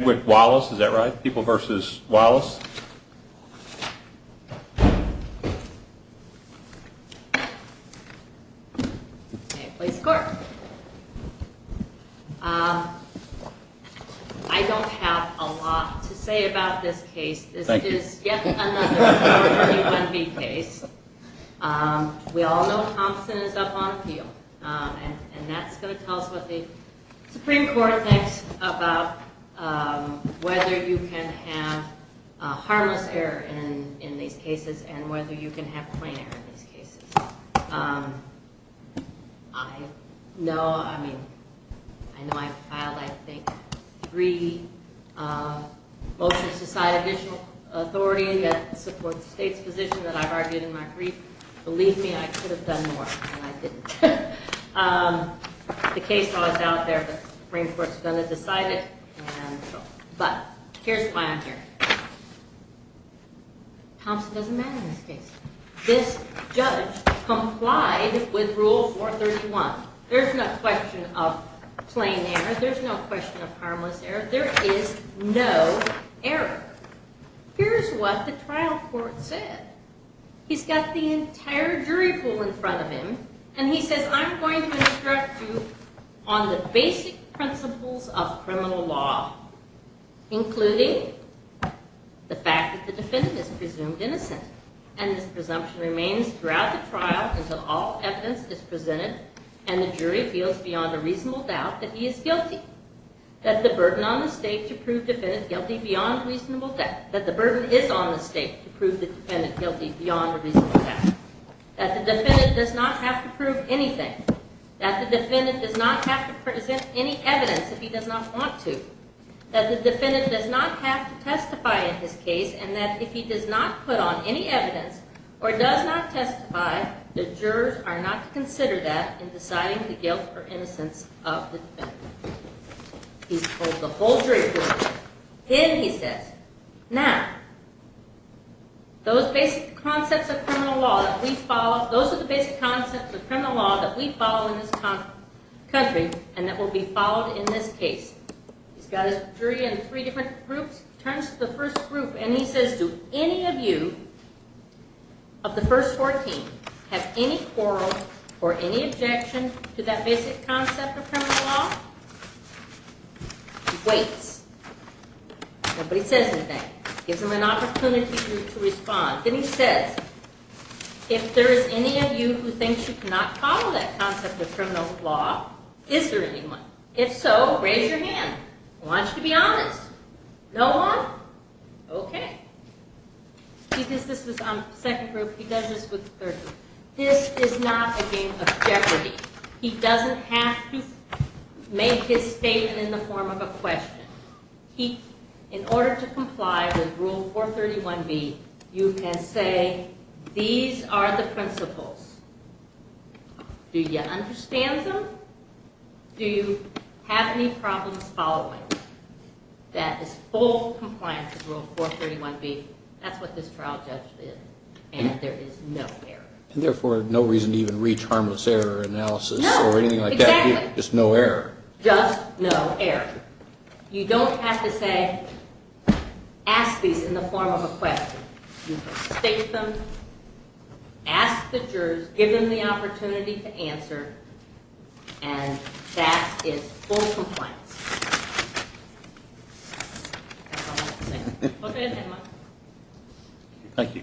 I don't have a lot to say about this case. This is yet another former UNB case. We all know Thompson is up on appeal and that's going to tell us what the Supreme Court thinks about whether you can have harmless error in these cases and whether you can have plain error in these cases. I know, I mean, I know I've filed, I think, three motions to cite additional authority that supports the state's position that I've argued in my brief. Believe me, I could have done more, and I didn't. The case law is out there, the Supreme Court's going to decide it, but here's why I'm here. Thompson doesn't matter in this case. This judge complied with Rule 431. There's no question of plain error, there's no question of harmless error, there is no error. Here's what the trial court said. He's got the defendant, and he says, I'm going to instruct you on the basic principles of criminal law, including the fact that the defendant is presumed innocent, and this presumption remains throughout the trial until all evidence is presented and the jury feels beyond a reasonable doubt that he is guilty, that the burden on the state to prove defendant guilty beyond reasonable doubt, that the burden is on the state to prove the defendant guilty does not have to prove anything, that the defendant does not have to present any evidence if he does not want to, that the defendant does not have to testify in his case, and that if he does not put on any evidence or does not testify, the jurors are not to consider that in deciding the guilt or innocence of the defendant. He's told the whole jury principle. Then he says, now, those basic concepts of criminal law that we follow, those are the basic concepts of criminal law that we follow in this country and that will be followed in this case. He's got his jury in three different groups. Turns to the first group, and he says, do any of you of the first 14 have any quarrel or any objection to that basic concept of criminal law? He waits. Nobody says anything. Gives him an opportunity to respond. Then he says, if there is any of you who thinks you cannot follow that concept of criminal law, is there anyone? If so, raise your hand. I want you to be honest. No one? Okay. Because this is on the second group, he does this with the third group. This is not a game of Jeopardy. He doesn't have to make his statement in the form of a question. In order to comply with Rule 431B, you can say, these are the principles. Do you understand them? Do you have any problems following that is full compliance with Rule 431B? That's what this trial judge did, and there is no error. Just no error. You don't have to say, ask these in the form of a question. You can state them, ask the jurors, give them the answer.